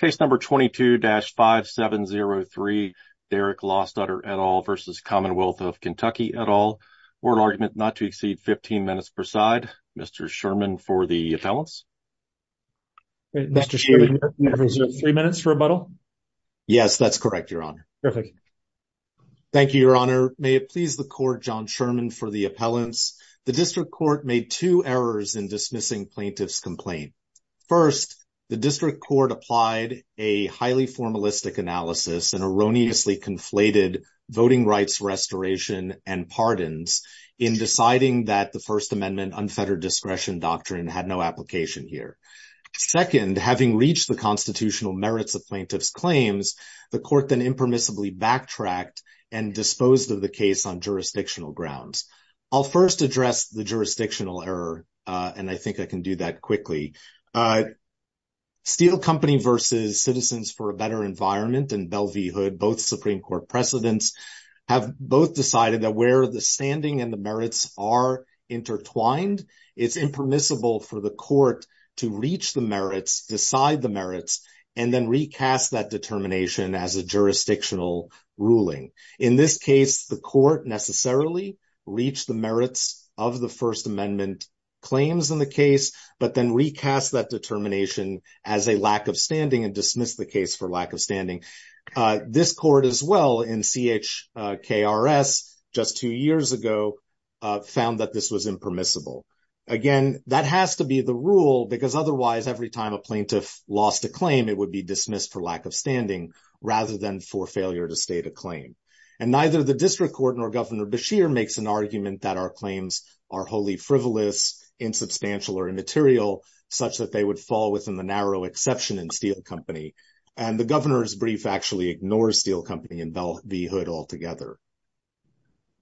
22-5703, Derek Lostutter v. Commonwealth of Kentucky et al., Court argument not to exceed 15 minutes per side. Mr. Sherman for the appellants. Mr. Sherman, you have three minutes for rebuttal. Yes, that's correct, Your Honor. Thank you, Your Honor. May it please the Court, John Sherman, for the appellants. The District Court made two errors in dismissing plaintiff's complaint. First, the District Court applied a highly formalistic analysis and erroneously conflated voting rights restoration and pardons in deciding that the First Amendment unfettered discretion doctrine had no application here. Second, having reached the constitutional merits of plaintiff's claims, the Court then impermissibly backtracked and disposed of the case on jurisdictional grounds. I'll first address the jurisdictional error, and I think I can do that quickly. Steel Company v. Citizens for a Better Environment and Bell v. Hood, both Supreme Court presidents, have both decided that where the standing and the merits are intertwined, it's impermissible for the Court to reach the merits, decide the merits, and then recast that determination as a jurisdictional ruling. In this case, the Court necessarily reached the merits of the First Amendment claims in the case, but then recast that determination as a lack of standing and dismissed the case for lack of standing. This Court, as well, in CHKRS just two years ago, found that this was impermissible. Again, that has to be the rule because otherwise, every time a plaintiff lost a claim, it would be dismissed for lack of standing rather than for failure to state a claim. And neither the District Court nor Governor Beshear makes an argument that our claims are wholly frivolous, insubstantial, or immaterial, such that they would fall within the narrow exception in Steel Company. And the Governor's brief actually ignores Steel Company and Bell v. Hood altogether.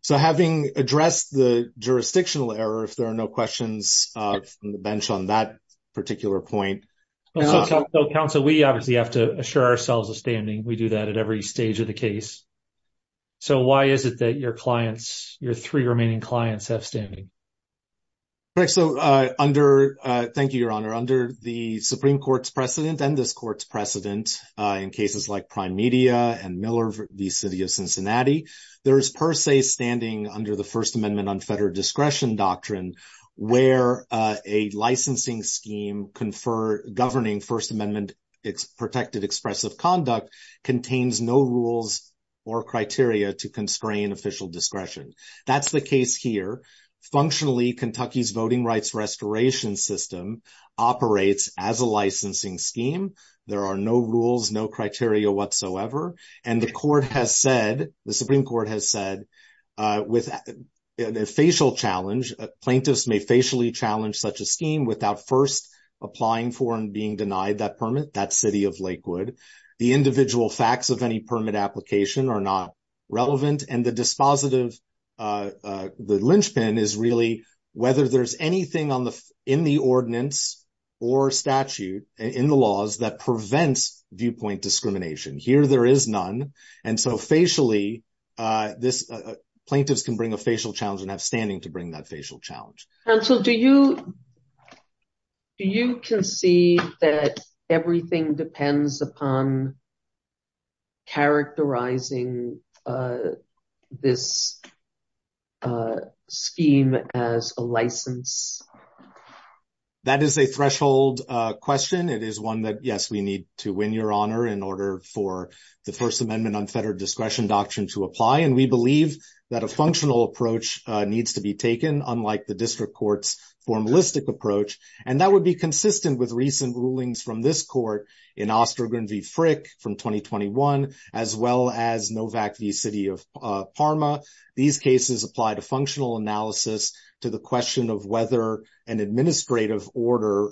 So having addressed the jurisdictional error, if there are no questions from the bench on that we do that at every stage of the case. So why is it that your clients, your three remaining clients, have standing? Thank you, Your Honor. Under the Supreme Court's precedent and this Court's precedent in cases like Prime Media and Miller v. City of Cincinnati, there is per se standing under the First Amendment unfettered discretion doctrine where a licensing scheme governing First Amendment protected expressive conduct contains no rules or criteria to constrain official discretion. That's the case here. Functionally, Kentucky's voting rights restoration system operates as a licensing scheme. There are no rules, no criteria whatsoever. And the Supreme Court has said, with a facial challenge, plaintiffs may facially challenge such a scheme without first applying for and being denied that permit. That's City of Lakewood. The individual facts of any permit application are not relevant. And the dispositive, the linchpin is really whether there's anything in the ordinance or statute in the laws that prevents viewpoint discrimination. Here there is none. And so facially, plaintiffs can bring a facial challenge and have standing to bring that facial challenge. Counsel, do you do you concede that everything depends upon characterizing this scheme as a license? That is a threshold question. It is one that, yes, we need to win, Your Honor, in order for the First Amendment unfettered discretion doctrine to apply. And we believe that a formalistic approach, and that would be consistent with recent rulings from this court in Ostergren v. Frick from 2021, as well as Novak v. City of Parma. These cases apply to functional analysis to the question of whether an administrative order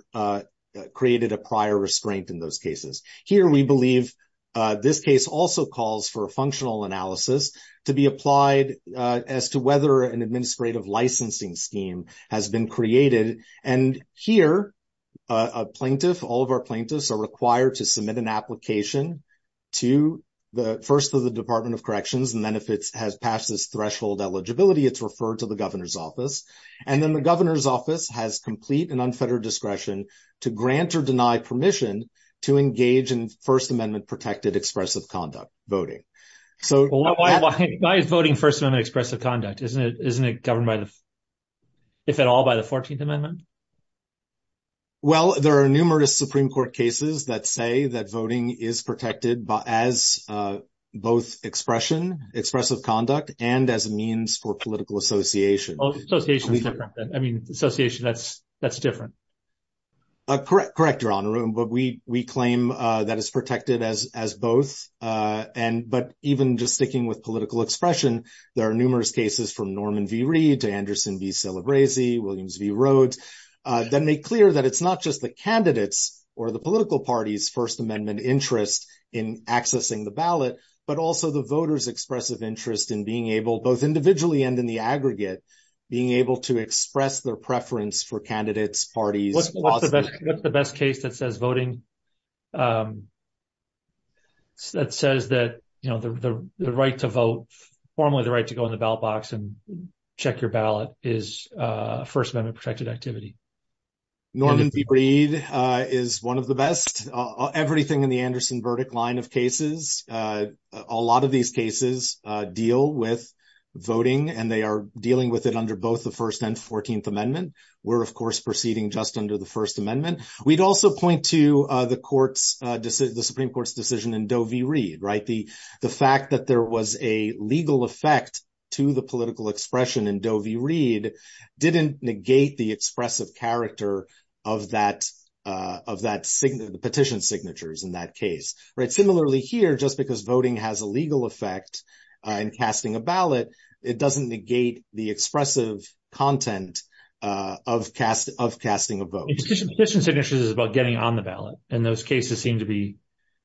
created a prior restraint in those cases. Here we believe this case also calls for a functional analysis to be applied as to whether an administrative licensing scheme has been created. And here a plaintiff, all of our plaintiffs, are required to submit an application to the first of the Department of Corrections. And then if it has passed this threshold eligibility, it's referred to the governor's office. And then the governor's office has complete and unfettered discretion to grant or deny permission to engage in First Amendment protected expressive conduct voting. So why is voting First Amendment expressive conduct? Isn't it governed, if at all, by the 14th Amendment? Well, there are numerous Supreme Court cases that say that voting is protected as both expressive conduct and as a means for political association. Oh, association is different. I mean, association, that's different. Correct, Your Honor. But we claim that it's protected as both. But even just sticking with political expression, there are numerous cases from Norman v. Reed to Anderson v. Celebrezzi, Williams v. Rhodes, that make clear that it's not just the candidates or the political party's First Amendment interest in accessing the ballot, but also the voters' expressive interest in being able, both individually and in the aggregate, being able to express their preference for the ballot. What's the best case that says voting, that says that the right to vote, formally the right to go in the ballot box and check your ballot, is First Amendment protected activity? Norman v. Reed is one of the best. Everything in the Anderson verdict line of cases, a lot of these cases deal with voting, and they are dealing with it under both the First and First Amendment. We'd also point to the Supreme Court's decision in Doe v. Reed. The fact that there was a legal effect to the political expression in Doe v. Reed didn't negate the expressive character of the petition signatures in that case. Similarly here, just because voting has a legal effect in casting a ballot, it doesn't negate the expressive content of casting a vote. Petition signatures is about getting on the ballot, and those cases seem to be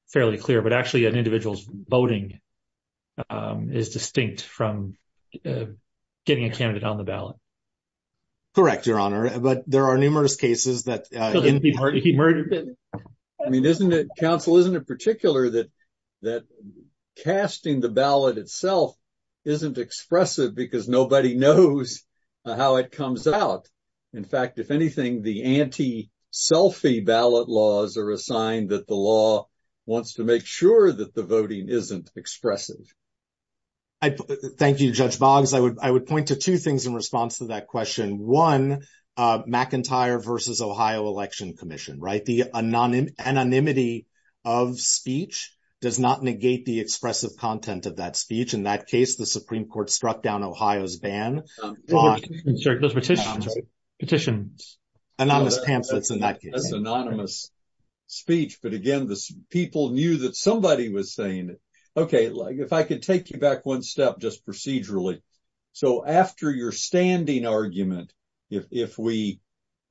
fairly clear, but actually an individual's voting is distinct from getting a candidate on the ballot. Correct, Your Honor, but there are numerous cases that... He murdered them. I mean, Council, isn't it particular that casting the ballot itself isn't expressive because nobody knows how it comes out? In fact, if anything, the anti-selfie ballot laws are a sign that the law wants to make sure that the voting isn't expressive. Thank you, Judge Boggs. I would point to two things in response to that question. One, McIntyre v. Ohio Election Commission, right? The anonymity of speech does not negate the expressive content of that speech. In that case, the Supreme Court struck down Ohio's ban. Those petitions. Anonymous pamphlets in that case. That's anonymous speech, but again, people knew that somebody was saying it. Okay, if I could take you back one step just procedurally. So, after your standing argument, if we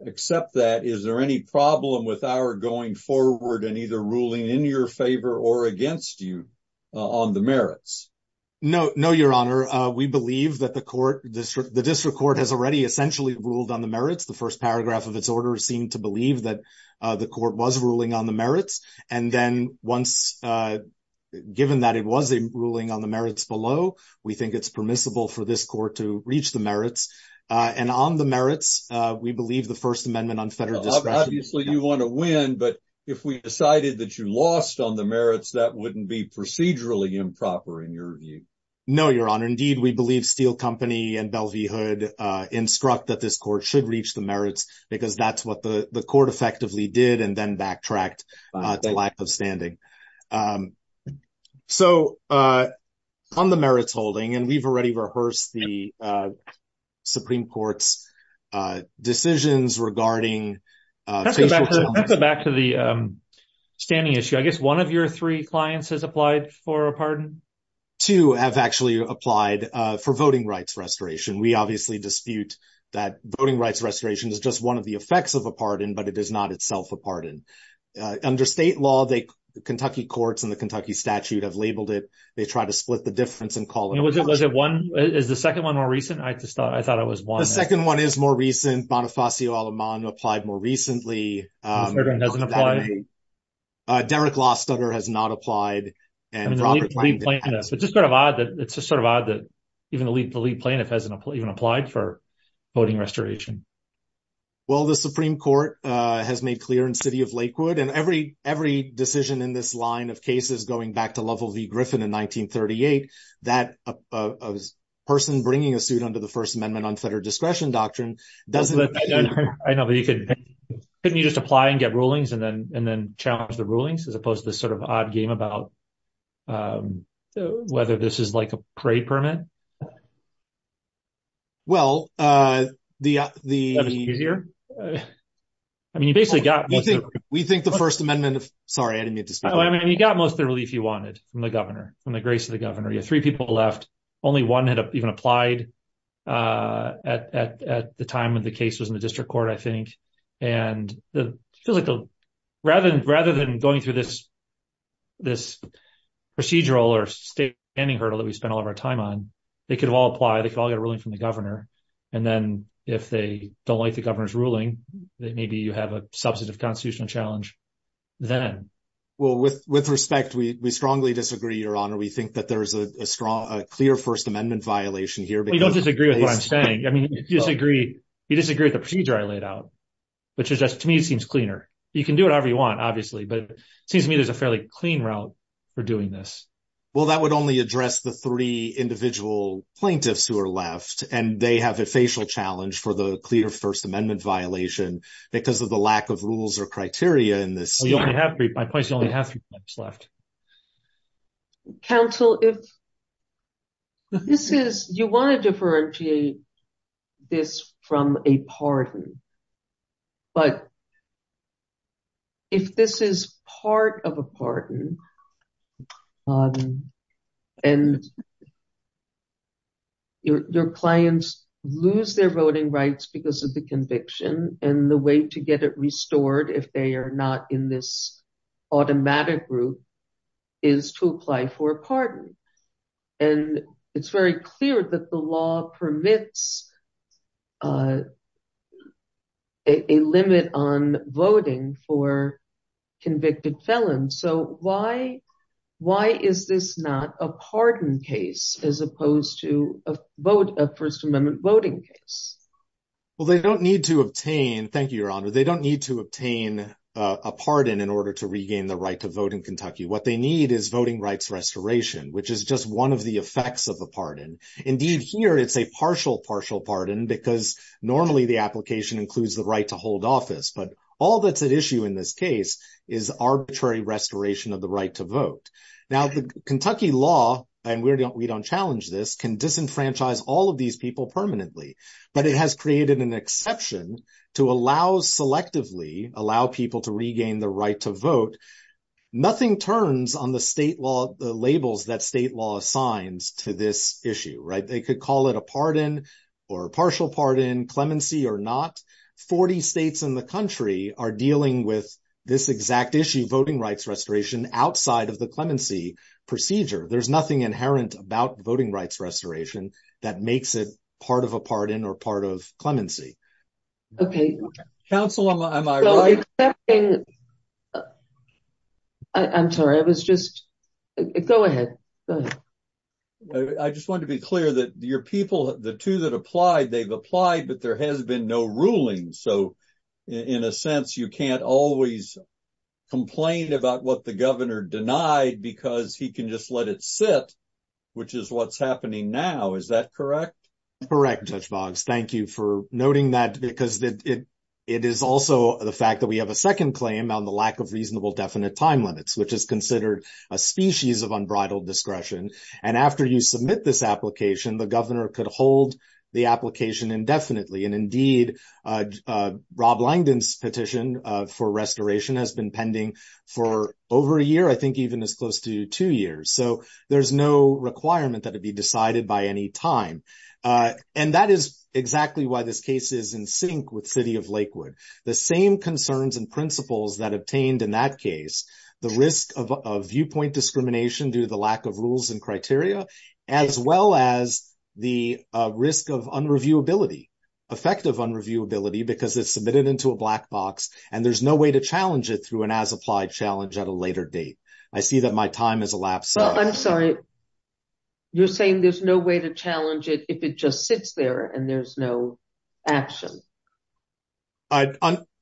accept that, is there any problem with our going forward and either ruling in your favor or against you on the merits? No, Your Honor. We believe that the District Court has already essentially ruled on the merits. The first paragraph of its order seemed to believe that the court was ruling on the merits. And then once given that it was ruling on the merits below, we think it's permissible for this court to reach the merits. And on the merits, we believe the First Amendment on federal discretion... You want to win, but if we decided that you lost on the merits, that wouldn't be procedurally improper in your view. No, Your Honor. Indeed, we believe Steele Company and Bell v. Hood instruct that this court should reach the merits because that's what the court effectively did and then backtracked to lack of standing. So, on the merits holding, and we've already rehearsed the Supreme Court's decisions regarding... Let's go back to the standing issue. I guess one of your three clients has applied for a pardon? Two have actually applied for voting rights restoration. We obviously dispute that voting rights restoration is just one of the effects of a pardon, but it is not itself a pardon. Under state law, the Kentucky courts and the Kentucky statute have labeled it. They try to split the difference and call it... Was it one? Is the second one more recent? I thought it was one. The second one is more recent. Bonifacio Aleman applied more recently. Derek Lostutter has not applied. It's just sort of odd that even the lead plaintiff hasn't even applied for voting restoration. Well, the Supreme Court has made clear in City of Lakewood, and every decision in this line of cases going back to Lovell v. Griffin in 1938, that a person bringing a suit under the First Amendment or the discretion doctrine doesn't... I know, but couldn't you just apply and get rulings and then challenge the rulings, as opposed to this sort of odd game about whether this is like a parade permit? Well, the... Is that easier? I mean, you basically got most of the... We think the First Amendment... Sorry, I didn't mean to... I mean, you got most of the relief you wanted from the governor, from the grace of the governor. You have three people left. Only one had even applied at the time when the case was in the district court, I think. And rather than going through this procedural or standing hurdle that we spent all of our time on, they could all apply. They could all get a ruling from the governor. And then if they don't like the governor's ruling, then maybe you have a substantive constitutional challenge then. Well, with respect, we strongly disagree, Your Honor. We think that there's a clear First Amendment violation here because... Well, you don't disagree with what I'm saying. I mean, you disagree with the procedure I laid out, which is just... To me, it seems cleaner. You can do it however you want, obviously. But it seems to me there's a fairly clean route for doing this. Well, that would only address the three individual plaintiffs who are left, and they have a facial challenge for the clear First Amendment violation because of the lack of rules or criteria in this. My point is you only have three plaintiffs left. Counsel, you want to differentiate this from a pardon. But if this is part of a pardon, and your clients lose their voting rights because of the conviction and the way to get it restored if they are not in this automatic group, is to apply for a pardon. And it's very clear that the law permits a limit on voting for convicted felons. So why is this not a pardon case as opposed to a First Amendment voting case? Well, they don't need to obtain... a pardon in order to regain the right to vote in Kentucky. What they need is voting rights restoration, which is just one of the effects of a pardon. Indeed, here it's a partial, partial pardon because normally the application includes the right to hold office. But all that's at issue in this case is arbitrary restoration of the right to vote. Now, the Kentucky law, and we don't challenge this, can disenfranchise all of these people permanently. But it has created an exception to allow selectively, allow people to regain the right to vote. Nothing turns on the state law, the labels that state law assigns to this issue, right? They could call it a pardon or a partial pardon, clemency or not. 40 states in the country are dealing with this exact issue, voting rights restoration, outside of the clemency procedure. There's nothing inherent about voting rights restoration that makes it part of a pardon or part of clemency. Counsel, am I right? I'm sorry, I was just... Go ahead. I just wanted to be clear that your people, the two that applied, they've applied, but there has been no ruling. So, in a sense, you can't always complain about what the governor denied because he can just let it sit, which is what's happening now. Is that correct? Correct, Judge Boggs. Thank you for noting that because it is also the fact that we have a second claim on the lack of reasonable definite time limits, which is considered a species of unbridled discretion. And after you submit this application, the governor could hold the application indefinitely. And indeed, Rob Langdon's petition for restoration has been pending for over a year, I think even as close to two years. So, there's no requirement that it be decided by any time. And that is exactly why this case is in sync with City of Lakewood. The same concerns and principles that obtained in that case, the risk of viewpoint discrimination due to the lack of rules and criteria, as well as the risk of unreviewability, effective unreviewability, because it's submitted into a black box and there's no way to challenge it through an as-applied challenge at a later date. I see that my time has elapsed. I'm sorry. You're saying there's no way to challenge it if it just sits there and there's no action?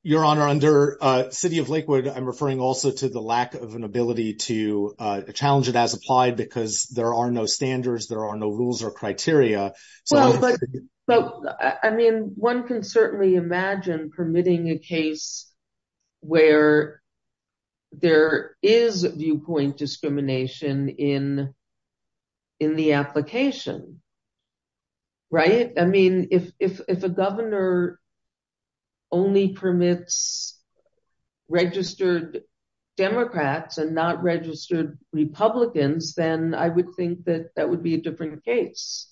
Your Honor, under City of Lakewood, I'm referring also to the lack of an ability to challenge it as applied because there are no standards, there are no rules or criteria. I mean, one can certainly imagine permitting a case where there is viewpoint discrimination in the application, right? I mean, if a governor only permits registered Democrats and not registered Republicans, then I would think that that would be a different case.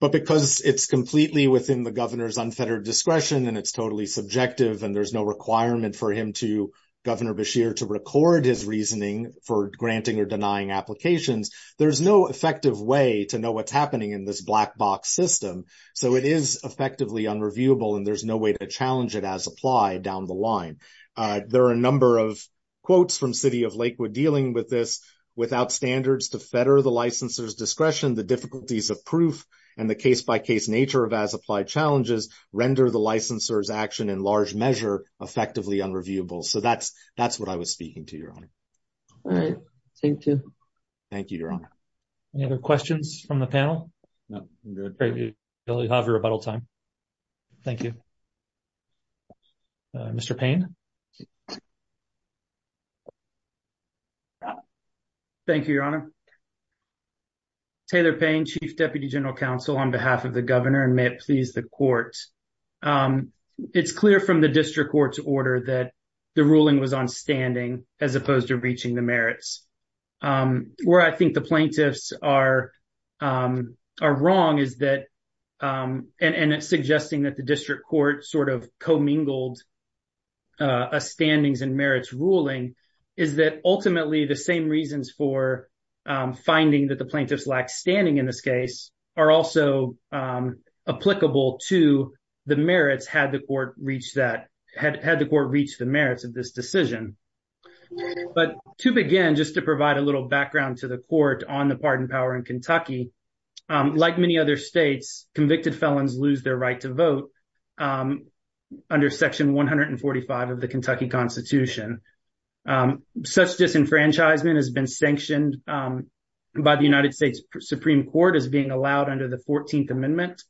But because it's completely within the governor's unfettered discretion and it's totally subjective and there's no requirement for him to, Governor Beshear, to record his reasoning for granting or denying applications, there's no effective way to know what's happening in this black box system. So it is effectively unreviewable and there's no way to challenge it as applied down the line. There are a number of quotes from City of Lakewood dealing with this. Without standards to fetter the licensor's discretion, the difficulties of proof and the case-by-case nature of as-applied challenges render the licensor's action in large measure effectively unreviewable. So that's what I was speaking to, Your Honor. All right. Thank you. Thank you, Your Honor. Any other questions from the panel? No. Great. We really have a rebuttal time. Thank you. Mr. Payne? Thank you, Your Honor. Taylor Payne, Chief Deputy General Counsel, on behalf of the Governor, and may it please the Court. It's clear from the District Court's order that the ruling was on reaching the merits. Where I think the plaintiffs are wrong, and it's suggesting that the District Court sort of commingled a standings and merits ruling, is that ultimately the same reasons for finding that the plaintiffs lack standing in this case are also applicable to the merits had the Court reached the merits of this decision. But to begin, just to provide a little background to the Court on the pardon power in Kentucky, like many other states, convicted felons lose their right to vote under Section 145 of the Kentucky Constitution. Such disenfranchisement has been sanctioned by the United States Supreme Court as being allowed under the 14th Amendment.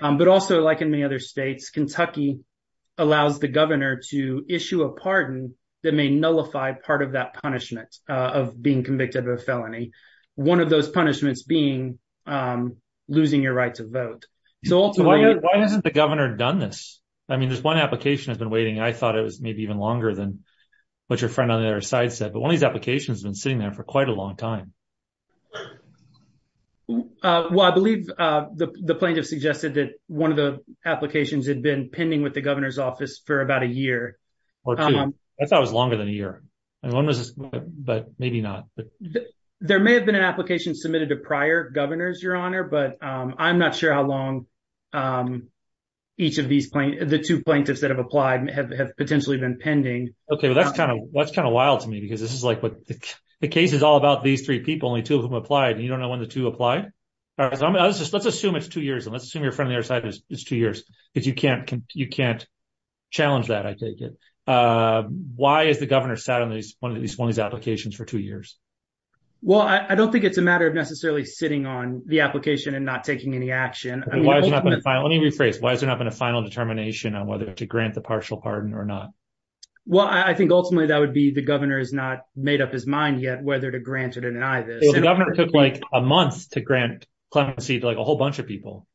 But also, like in many other states, Kentucky allows the Governor to issue a pardon that may nullify part of that punishment of being convicted of a felony, one of those punishments being losing your right to vote. So why hasn't the Governor done this? I mean, this one application has been waiting. I thought it was maybe even longer than what your friend on the other side said. But one of these applications has been sitting there for quite a long time. Well, I believe the plaintiff suggested that one of the applications had been pending with the Governor's office for about a year. I thought it was longer than a year. But maybe not. There may have been an application submitted to prior Governors, Your Honor, but I'm not sure how long each of these plaintiffs, the two plaintiffs that have applied, have potentially been pending. Okay, well, that's kind of wild to me, because this is like, the case is all about these three people, only two of them applied, and you don't know when the two applied? Let's assume it's two years. Let's assume your friend on the other side is two years, because you can't challenge that, I take it. Why has the Governor sat on one of these applications for two years? Well, I don't think it's a matter of necessarily sitting on the application and not taking any action. Let me rephrase. Why has there not been a final determination on whether to grant the pardon? Well, I think ultimately that would be the Governor has not made up his mind yet whether to grant it or deny this. Well, the Governor took like a month to grant clemency to like a whole bunch of people,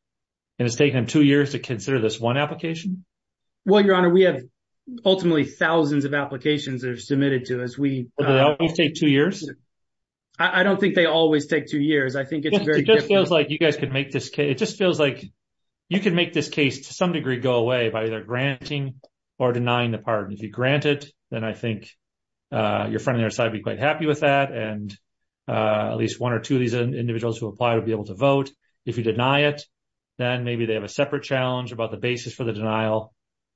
and it's taken him two years to consider this one application? Well, Your Honor, we have ultimately thousands of applications that are submitted to us. Do they always take two years? I don't think they always take two years. I think it's very different. It just feels like you guys could make this case, it just feels like you could make this case to some degree go away by either granting or denying the pardon. If you grant it, then I think your friend on the other side would be quite happy with that, and at least one or two of these individuals who apply would be able to vote. If you deny it, then maybe they have a separate challenge about the basis for the denial.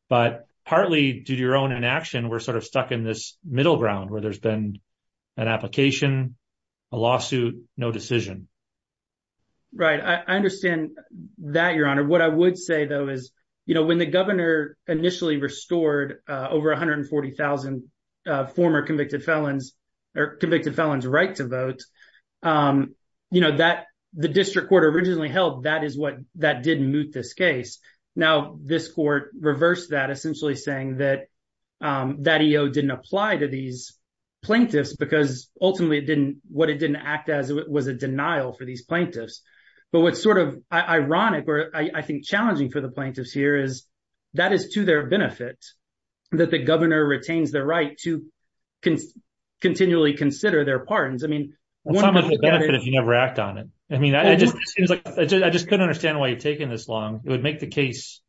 But partly due to your own inaction, we're sort of stuck in this middle ground where there's been an application, a lawsuit, no decision. Right. I understand that, Your Honor. What I would say, you know, when the governor initially restored over 140,000 former convicted felons, convicted felons' right to vote, you know, that the district court originally held that is what that did moot this case. Now, this court reversed that, essentially saying that that EO didn't apply to these plaintiffs because ultimately what it didn't act as was a denial for these plaintiffs. But what's sort of ironic, or I think challenging for the plaintiffs here, is that is to their benefit that the governor retains the right to continually consider their pardons. I mean, you never act on it. I mean, I just couldn't understand why you're taking this long. It would make the case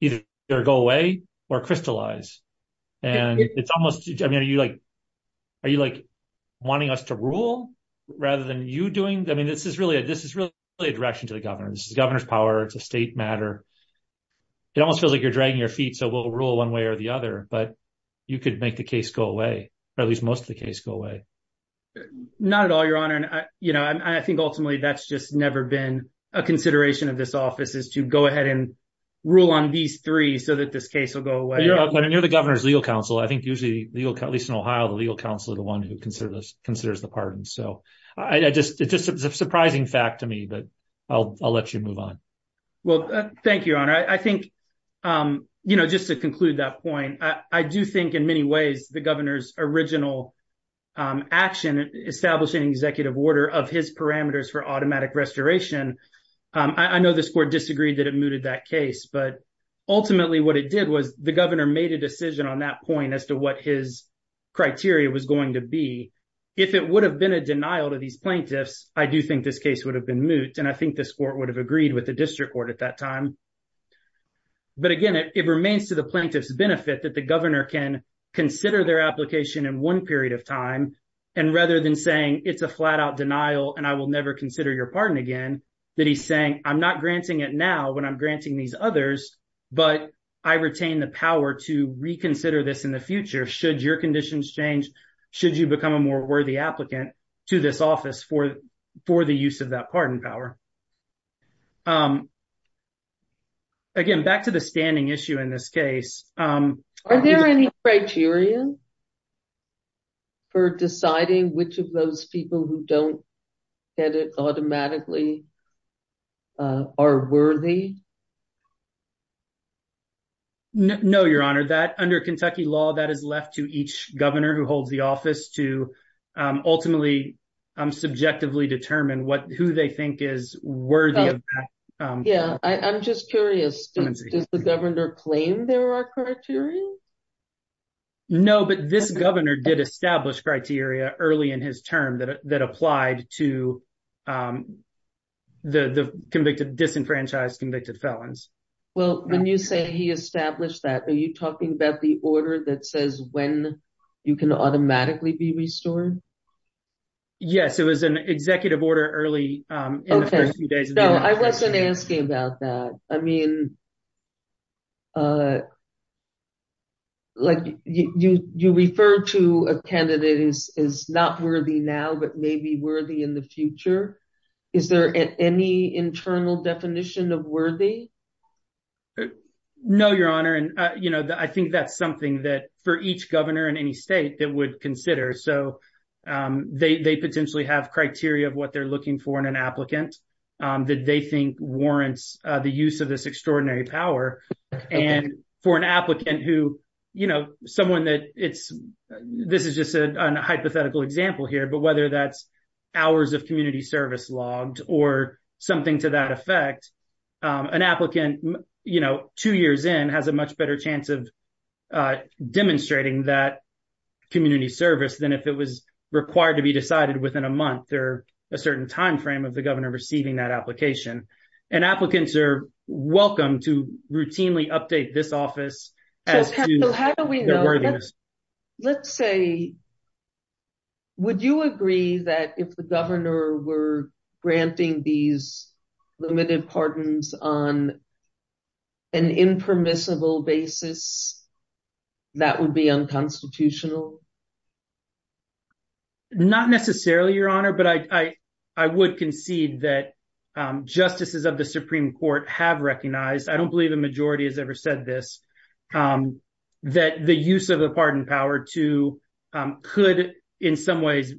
either go away or crystallize. And it's almost, I mean, are you like wanting us to rule rather than you doing? I mean, this is really a direction to the governor. This is the governor's power. It's a state matter. It almost feels like you're dragging your feet, so we'll rule one way or the other. But you could make the case go away, or at least most of the case go away. Not at all, Your Honor. And, you know, I think ultimately that's just never been a consideration of this office is to go ahead and rule on these three so that this case will go away. But you're the governor's legal counsel. I think usually, at least in Ohio, the legal counsel is the one who considers the pardons. So it's just a surprising fact to me, but I'll let you move on. Well, thank you, Your Honor. I think, you know, just to conclude that point, I do think in many ways the governor's original action, establishing executive order of his parameters for automatic restoration, I know this court disagreed that it mooted that case, but ultimately what it did was the governor made a decision on that point as to what his criteria was going to be. If it would have been a denial to these plaintiffs, I do think this case would have been moot, and I think this court would have agreed with the district court at that time. But again, it remains to the plaintiff's benefit that the governor can consider their application in one period of time, and rather than saying it's a flat-out denial and I will never consider your pardon again, that he's saying I'm not granting it now when I'm granting these others, but I retain the power to reconsider this in the future should your conditions change, should you become a more worthy applicant to this office for the use of that pardon power. Again, back to the standing issue in this case. Are there any criteria for deciding which of those people who don't get it automatically are worthy? No, Your Honor. Under Kentucky law, that is left to each governor who holds the office to ultimately subjectively determine who they think is worthy of that. Yeah, I'm just curious. Does the governor claim there are criteria? No, but this governor did establish criteria early in his term that applied to the disenfranchised convicted felons. Well, when you say he established that, are you talking about the order that says when you can automatically be restored? Yes, it was an executive order early in the first few days. No, I wasn't asking about that. I mean, like you refer to a candidate as not worthy now, but maybe worthy in the future. Is there any internal definition of worthy? No, Your Honor. I think that's something that for each governor in any state that would consider. They potentially have criteria of what they're looking for in an applicant that they think warrants the use of this extraordinary power. And for an applicant who, you know, someone that it's, this is just a hypothetical example here, but whether that's hours of community service logged or something to that effect, an applicant, you know, two years in has a much better chance of demonstrating that community service than if it was required to be decided within a month or a certain time frame of the governor receiving that application. And applicants are welcome to routinely update this office. Let's say, would you agree that if the governor were granting these limited pardons on an impermissible basis, that would be unconstitutional? Not necessarily, Your Honor, but I would concede that justices of the Supreme Court have recognized, I don't believe the majority has ever said this, that the use of the pardon power to, could in some ways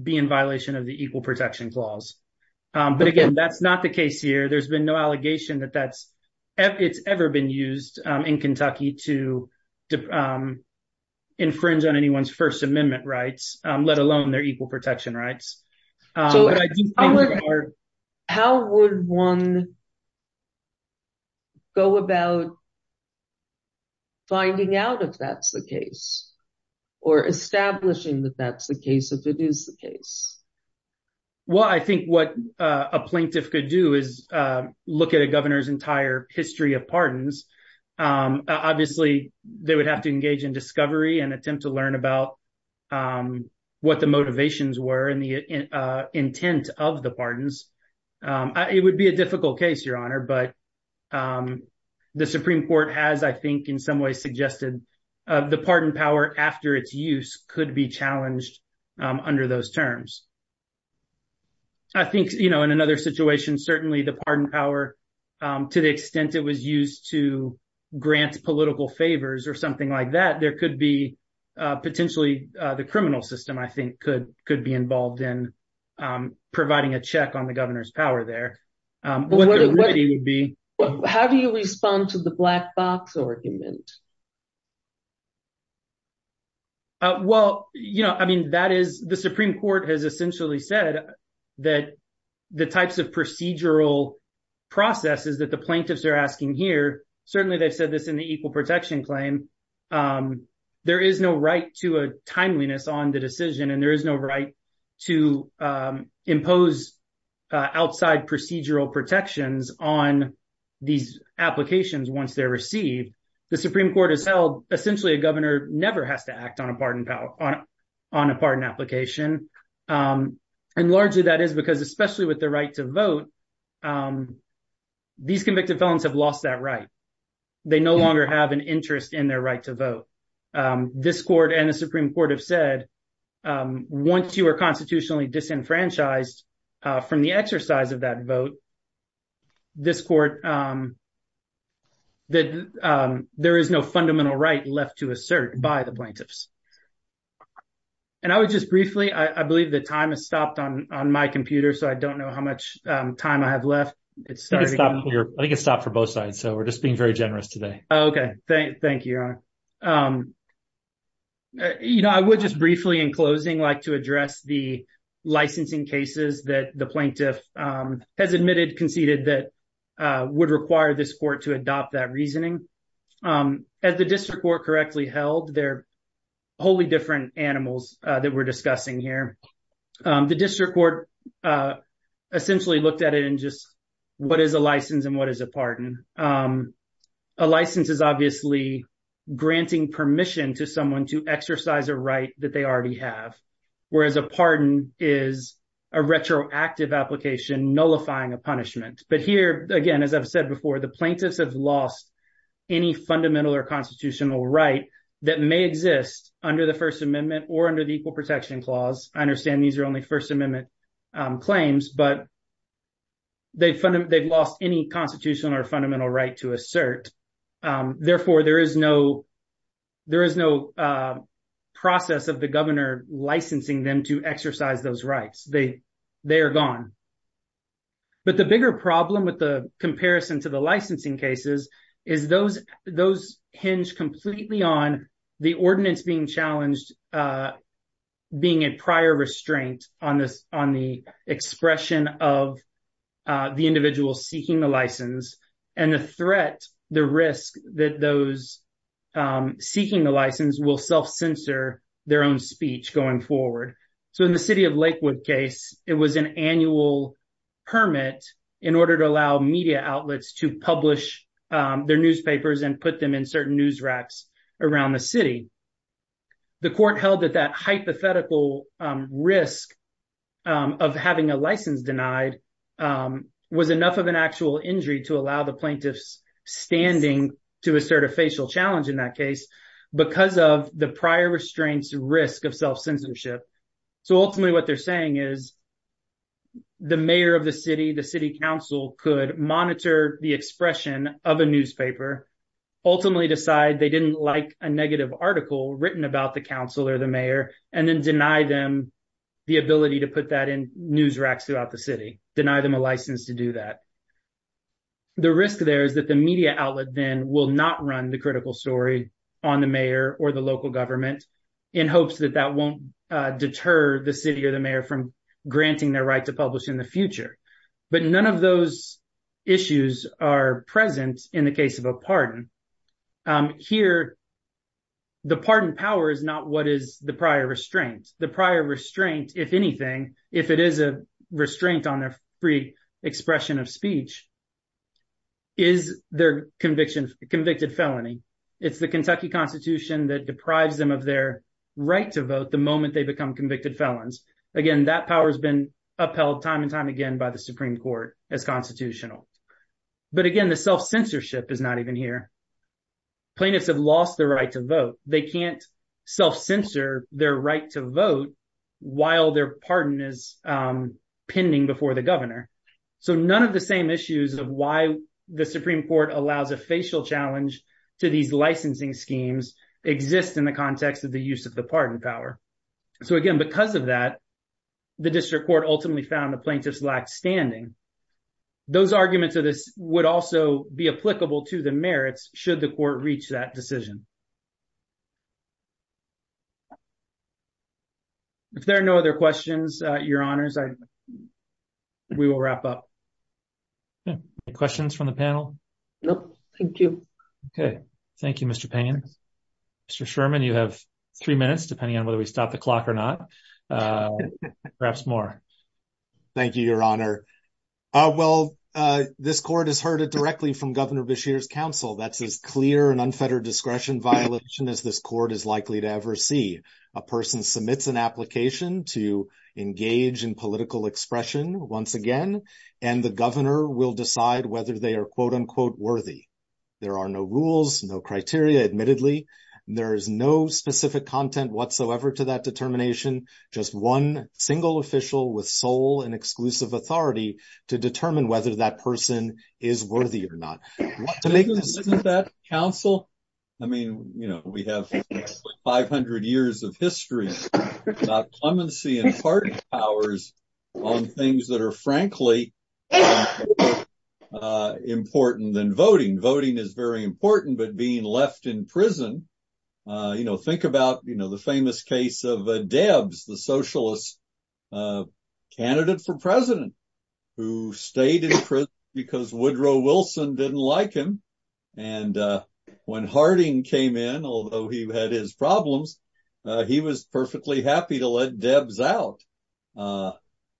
be in violation of the Equal Protection Clause. But again, that's not the case here. There's been no allegation that that's, it's ever been used in Kentucky to infringe on anyone's First Amendment rights, let alone their equal protection rights. How would one go about finding out if that's the case, or establishing that that's the case if it is the case? Well, I think what a plaintiff could do is look at a governor's entire history of pardons. Obviously, they would have to engage in discovery and attempt to learn about what the motivations were and the intent of the pardons. It would be a difficult case, Your Honor, but the Supreme Court has, I think, in some ways suggested the pardon power after its use could be challenged under those terms. I think, you know, in another situation, certainly the pardon power, to the extent it was used to grant political favors or something like that, there could be, potentially, the criminal system, I think, could be involved in providing a check on the governor's power there. How do you respond to the black box argument? Well, you know, I mean, that is, the Supreme Court has essentially said that the types of procedural processes that the plaintiffs are asking here, certainly they've said this in the equal protection claim, there is no right to a timeliness on the decision and there is no right to impose outside procedural protections on these applications once they're received. The Supreme Court has held essentially a governor never has to act on a pardon application. And largely that is because, especially with the right to vote, these convicted felons have lost that right. They no longer have an interest in their right to vote. This court and the Supreme Court have said, once you are constitutionally disenfranchised from the exercise of that vote, this court, that there is no fundamental right left to assert by the plaintiffs. And I would just briefly, I believe the time has stopped on my computer, so I don't know how much time I have left. I think it's stopped for both sides, so we're just being very generous today. Okay, thank you, Your Honor. You know, I would just briefly in closing like to address the licensing cases that the plaintiff has admitted, conceded that would require this court to adopt that reasoning. As the district court correctly held, they're wholly different animals that we're discussing here. The district court essentially looked at it in just what is a license and what is a pardon. A license is obviously granting permission to someone to exercise a right that they already have, whereas a pardon is a retroactive application nullifying a punishment. But here, again, as I've said before, the plaintiffs have lost any fundamental or constitutional right that may exist under the First Amendment or under the Equal Protection Clause. I understand these are only First Amendment claims, but they've lost any constitutional or fundamental right to assert. Therefore, there is no process of the governor licensing them to exercise those rights. They are gone. But the bigger problem with the comparison to the licensing cases is those hinge completely on the ordinance being challenged, being a prior restraint on the expression of the individual seeking the license and the threat, the risk that those seeking the license will self-censor their own speech going forward. So in the city of Lakewood case, it was an annual permit in order to allow media outlets to publish their newspapers and put them in certain news racks around the city. The court held that that hypothetical risk of having a license denied was enough of an actual injury to allow the plaintiffs standing to assert a facial challenge in that case because of the prior restraints risk of self-censorship. So ultimately, what they're saying is the mayor of the city, the city council could monitor the expression of a newspaper, ultimately decide they didn't like a negative article written about the council or the mayor, and then deny them the ability to put that in news racks throughout the city, deny them a license to do that. The risk there is that the media outlet then will not run the critical story on the mayor or the local government in hopes that that won't deter the city or the mayor from granting their right to publish in the future. But none of those issues are present in the case of a pardon. Here, the pardon power is not what is the prior restraint. The prior restraint, if anything, if it is a restraint on their free expression of speech, is their conviction, convicted felony. It's the Kentucky Constitution that deprives them of their right to vote the moment they become convicted felons. Again, that power has been upheld time and time again by the Supreme Court as constitutional. But again, the self-censorship is not even here. Plaintiffs have lost their right to vote. They can't self-censor their right to vote while their pardon is pending before the governor. So none of the same issues of why the Supreme Court allows a facial challenge to these licensing schemes exist in the context of the use of the pardon power. So again, because of that, the district court ultimately found the plaintiffs lack standing. Those arguments of this would also be applicable to the merits should the court reach that decision. If there are no other questions, your honors, I, we will wrap up. Any questions from the panel? Nope. Thank you. Okay. Thank you, Mr. Payne. Mr. Sherman, you have three minutes, depending on whether we stop the clock or not. Perhaps more. Thank you, your honor. Well, this court has heard it directly from Governor Beshear's counsel. That's as clear an unfettered discretion violation as this court is likely to ever see. A person submits an application to engage in political expression once again, and the governor will decide whether they are quote-unquote worthy. There are no rules, no criteria, admittedly. There is no specific content whatsoever to that determination. Just one single official with sole and exclusive authority to determine whether that person is worthy or not. Isn't that counsel? I mean, you know, we have 500 years of history, not clemency and party powers on things that are frankly important than voting. Voting is very important, but being left in prison, you know, think about, you know, the famous case of Debs, the socialist candidate for president who stayed in prison because Woodrow Wilson didn't like him. And when Harding came in, although he had his problems, he was perfectly happy to let Debs out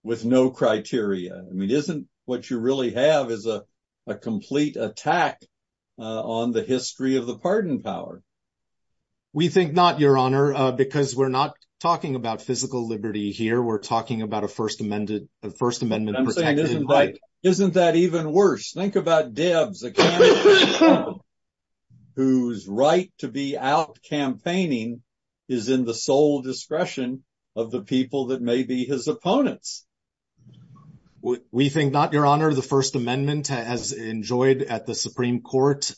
with no criteria. I mean, isn't what you really have is a complete attack on the history of the pardon power. We think not, your honor, because we're not talking about physical liberty here. We're talking about a First Amendment protected right. Isn't that even worse? Think about Debs, a candidate whose right to be out campaigning is in the sole discretion of the people that may be his opponents. We think not, your honor. The First Amendment has enjoyed at the Supreme Court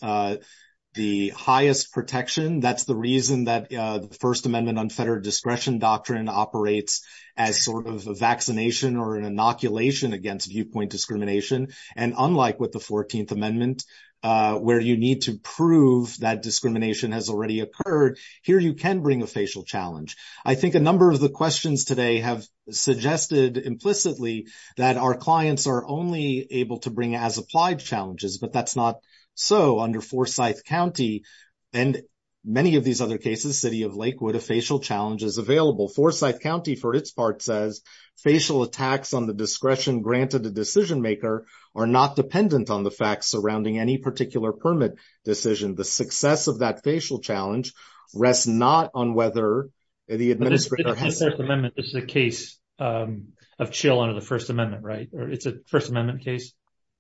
the highest protection. That's the reason that the First Amendment unfettered discretion doctrine operates as a vaccination or an inoculation against viewpoint discrimination. And unlike with the 14th Amendment, where you need to prove that discrimination has already occurred, here you can bring a facial challenge. I think a number of the questions today have suggested implicitly that our clients are only able to bring as applied challenges, but that's not so under Forsyth County and many of these other cases, city of Lakewood, a facial challenge is available. Forsyth County, for its part, says facial attacks on the discretion granted the decision maker are not dependent on the facts surrounding any particular permit decision. The success of that facial challenge rests not on whether the administrator has... The First Amendment is a case of chill under the First Amendment, right? It's a First Amendment case?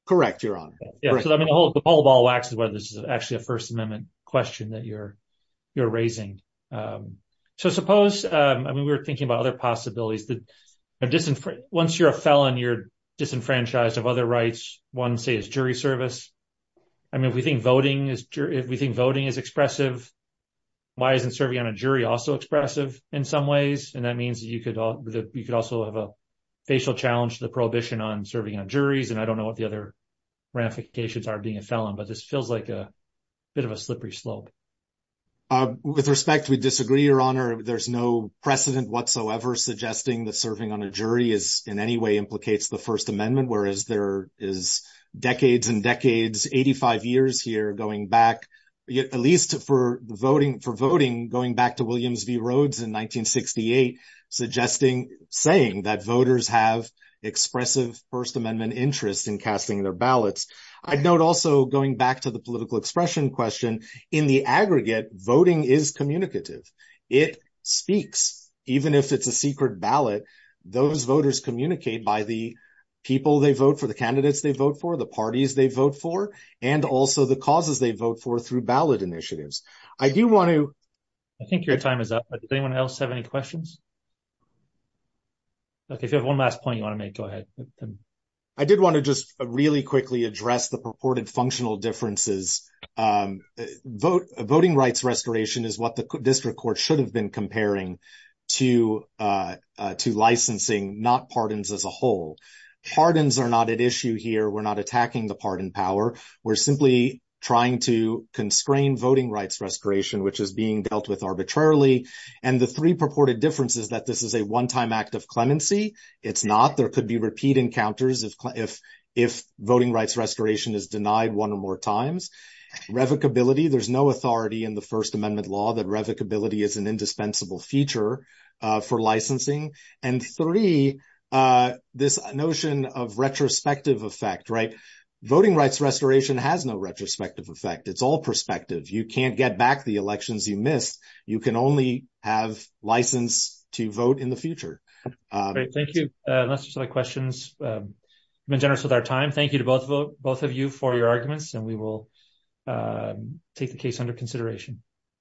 Correct, your honor. Yeah, so I mean, the whole ball waxes whether this is actually a First Amendment question that you're raising. So suppose, I mean, we were thinking about other possibilities that once you're a felon, you're disenfranchised of other rights. One, say, is jury service. I mean, if we think voting is expressive, why isn't serving on a jury also expressive in some ways? And that means that you could also have a facial challenge to the prohibition on serving on juries. And I don't know what the other ramifications are being a felon, but this feels like a bit of a slippery slope. Uh, with respect, we disagree, your honor. There's no precedent whatsoever suggesting that serving on a jury is in any way implicates the First Amendment, whereas there is decades and decades, 85 years here going back, at least for voting, going back to Williams v. Rhodes in 1968, suggesting, saying that voters have expressive First Amendment interest in casting their ballots. I'd note also, going back to the political expression question, in the aggregate, voting is communicative. It speaks. Even if it's a secret ballot, those voters communicate by the people they vote for, the candidates they vote for, the parties they vote for, and also the causes they vote for through ballot initiatives. I do want to... I think your time is up. Does anyone else have any questions? Look, if you have one last point you want to make, go ahead. I did want to just really quickly address the purported functional differences. Voting rights restoration is what the district court should have been comparing to licensing, not pardons as a whole. Pardons are not at issue here. We're not attacking the pardon power. We're simply trying to constrain voting rights restoration, which is being dealt with arbitrarily. And the three purported differences that this is a one-time act of clemency, it's not. There could be repeat encounters if voting rights restoration is denied one or more times. Revocability, there's no authority in the First Amendment law that revocability is an indispensable feature for licensing. And three, this notion of retrospective effect, right? Voting rights restoration has no retrospective effect. It's all perspective. You can't get back the elections you missed. You can only have license to vote in the future. Thank you. Unless there's other questions, I've been generous with our time. Thank you to both of you for your arguments, and we will take the case under consideration.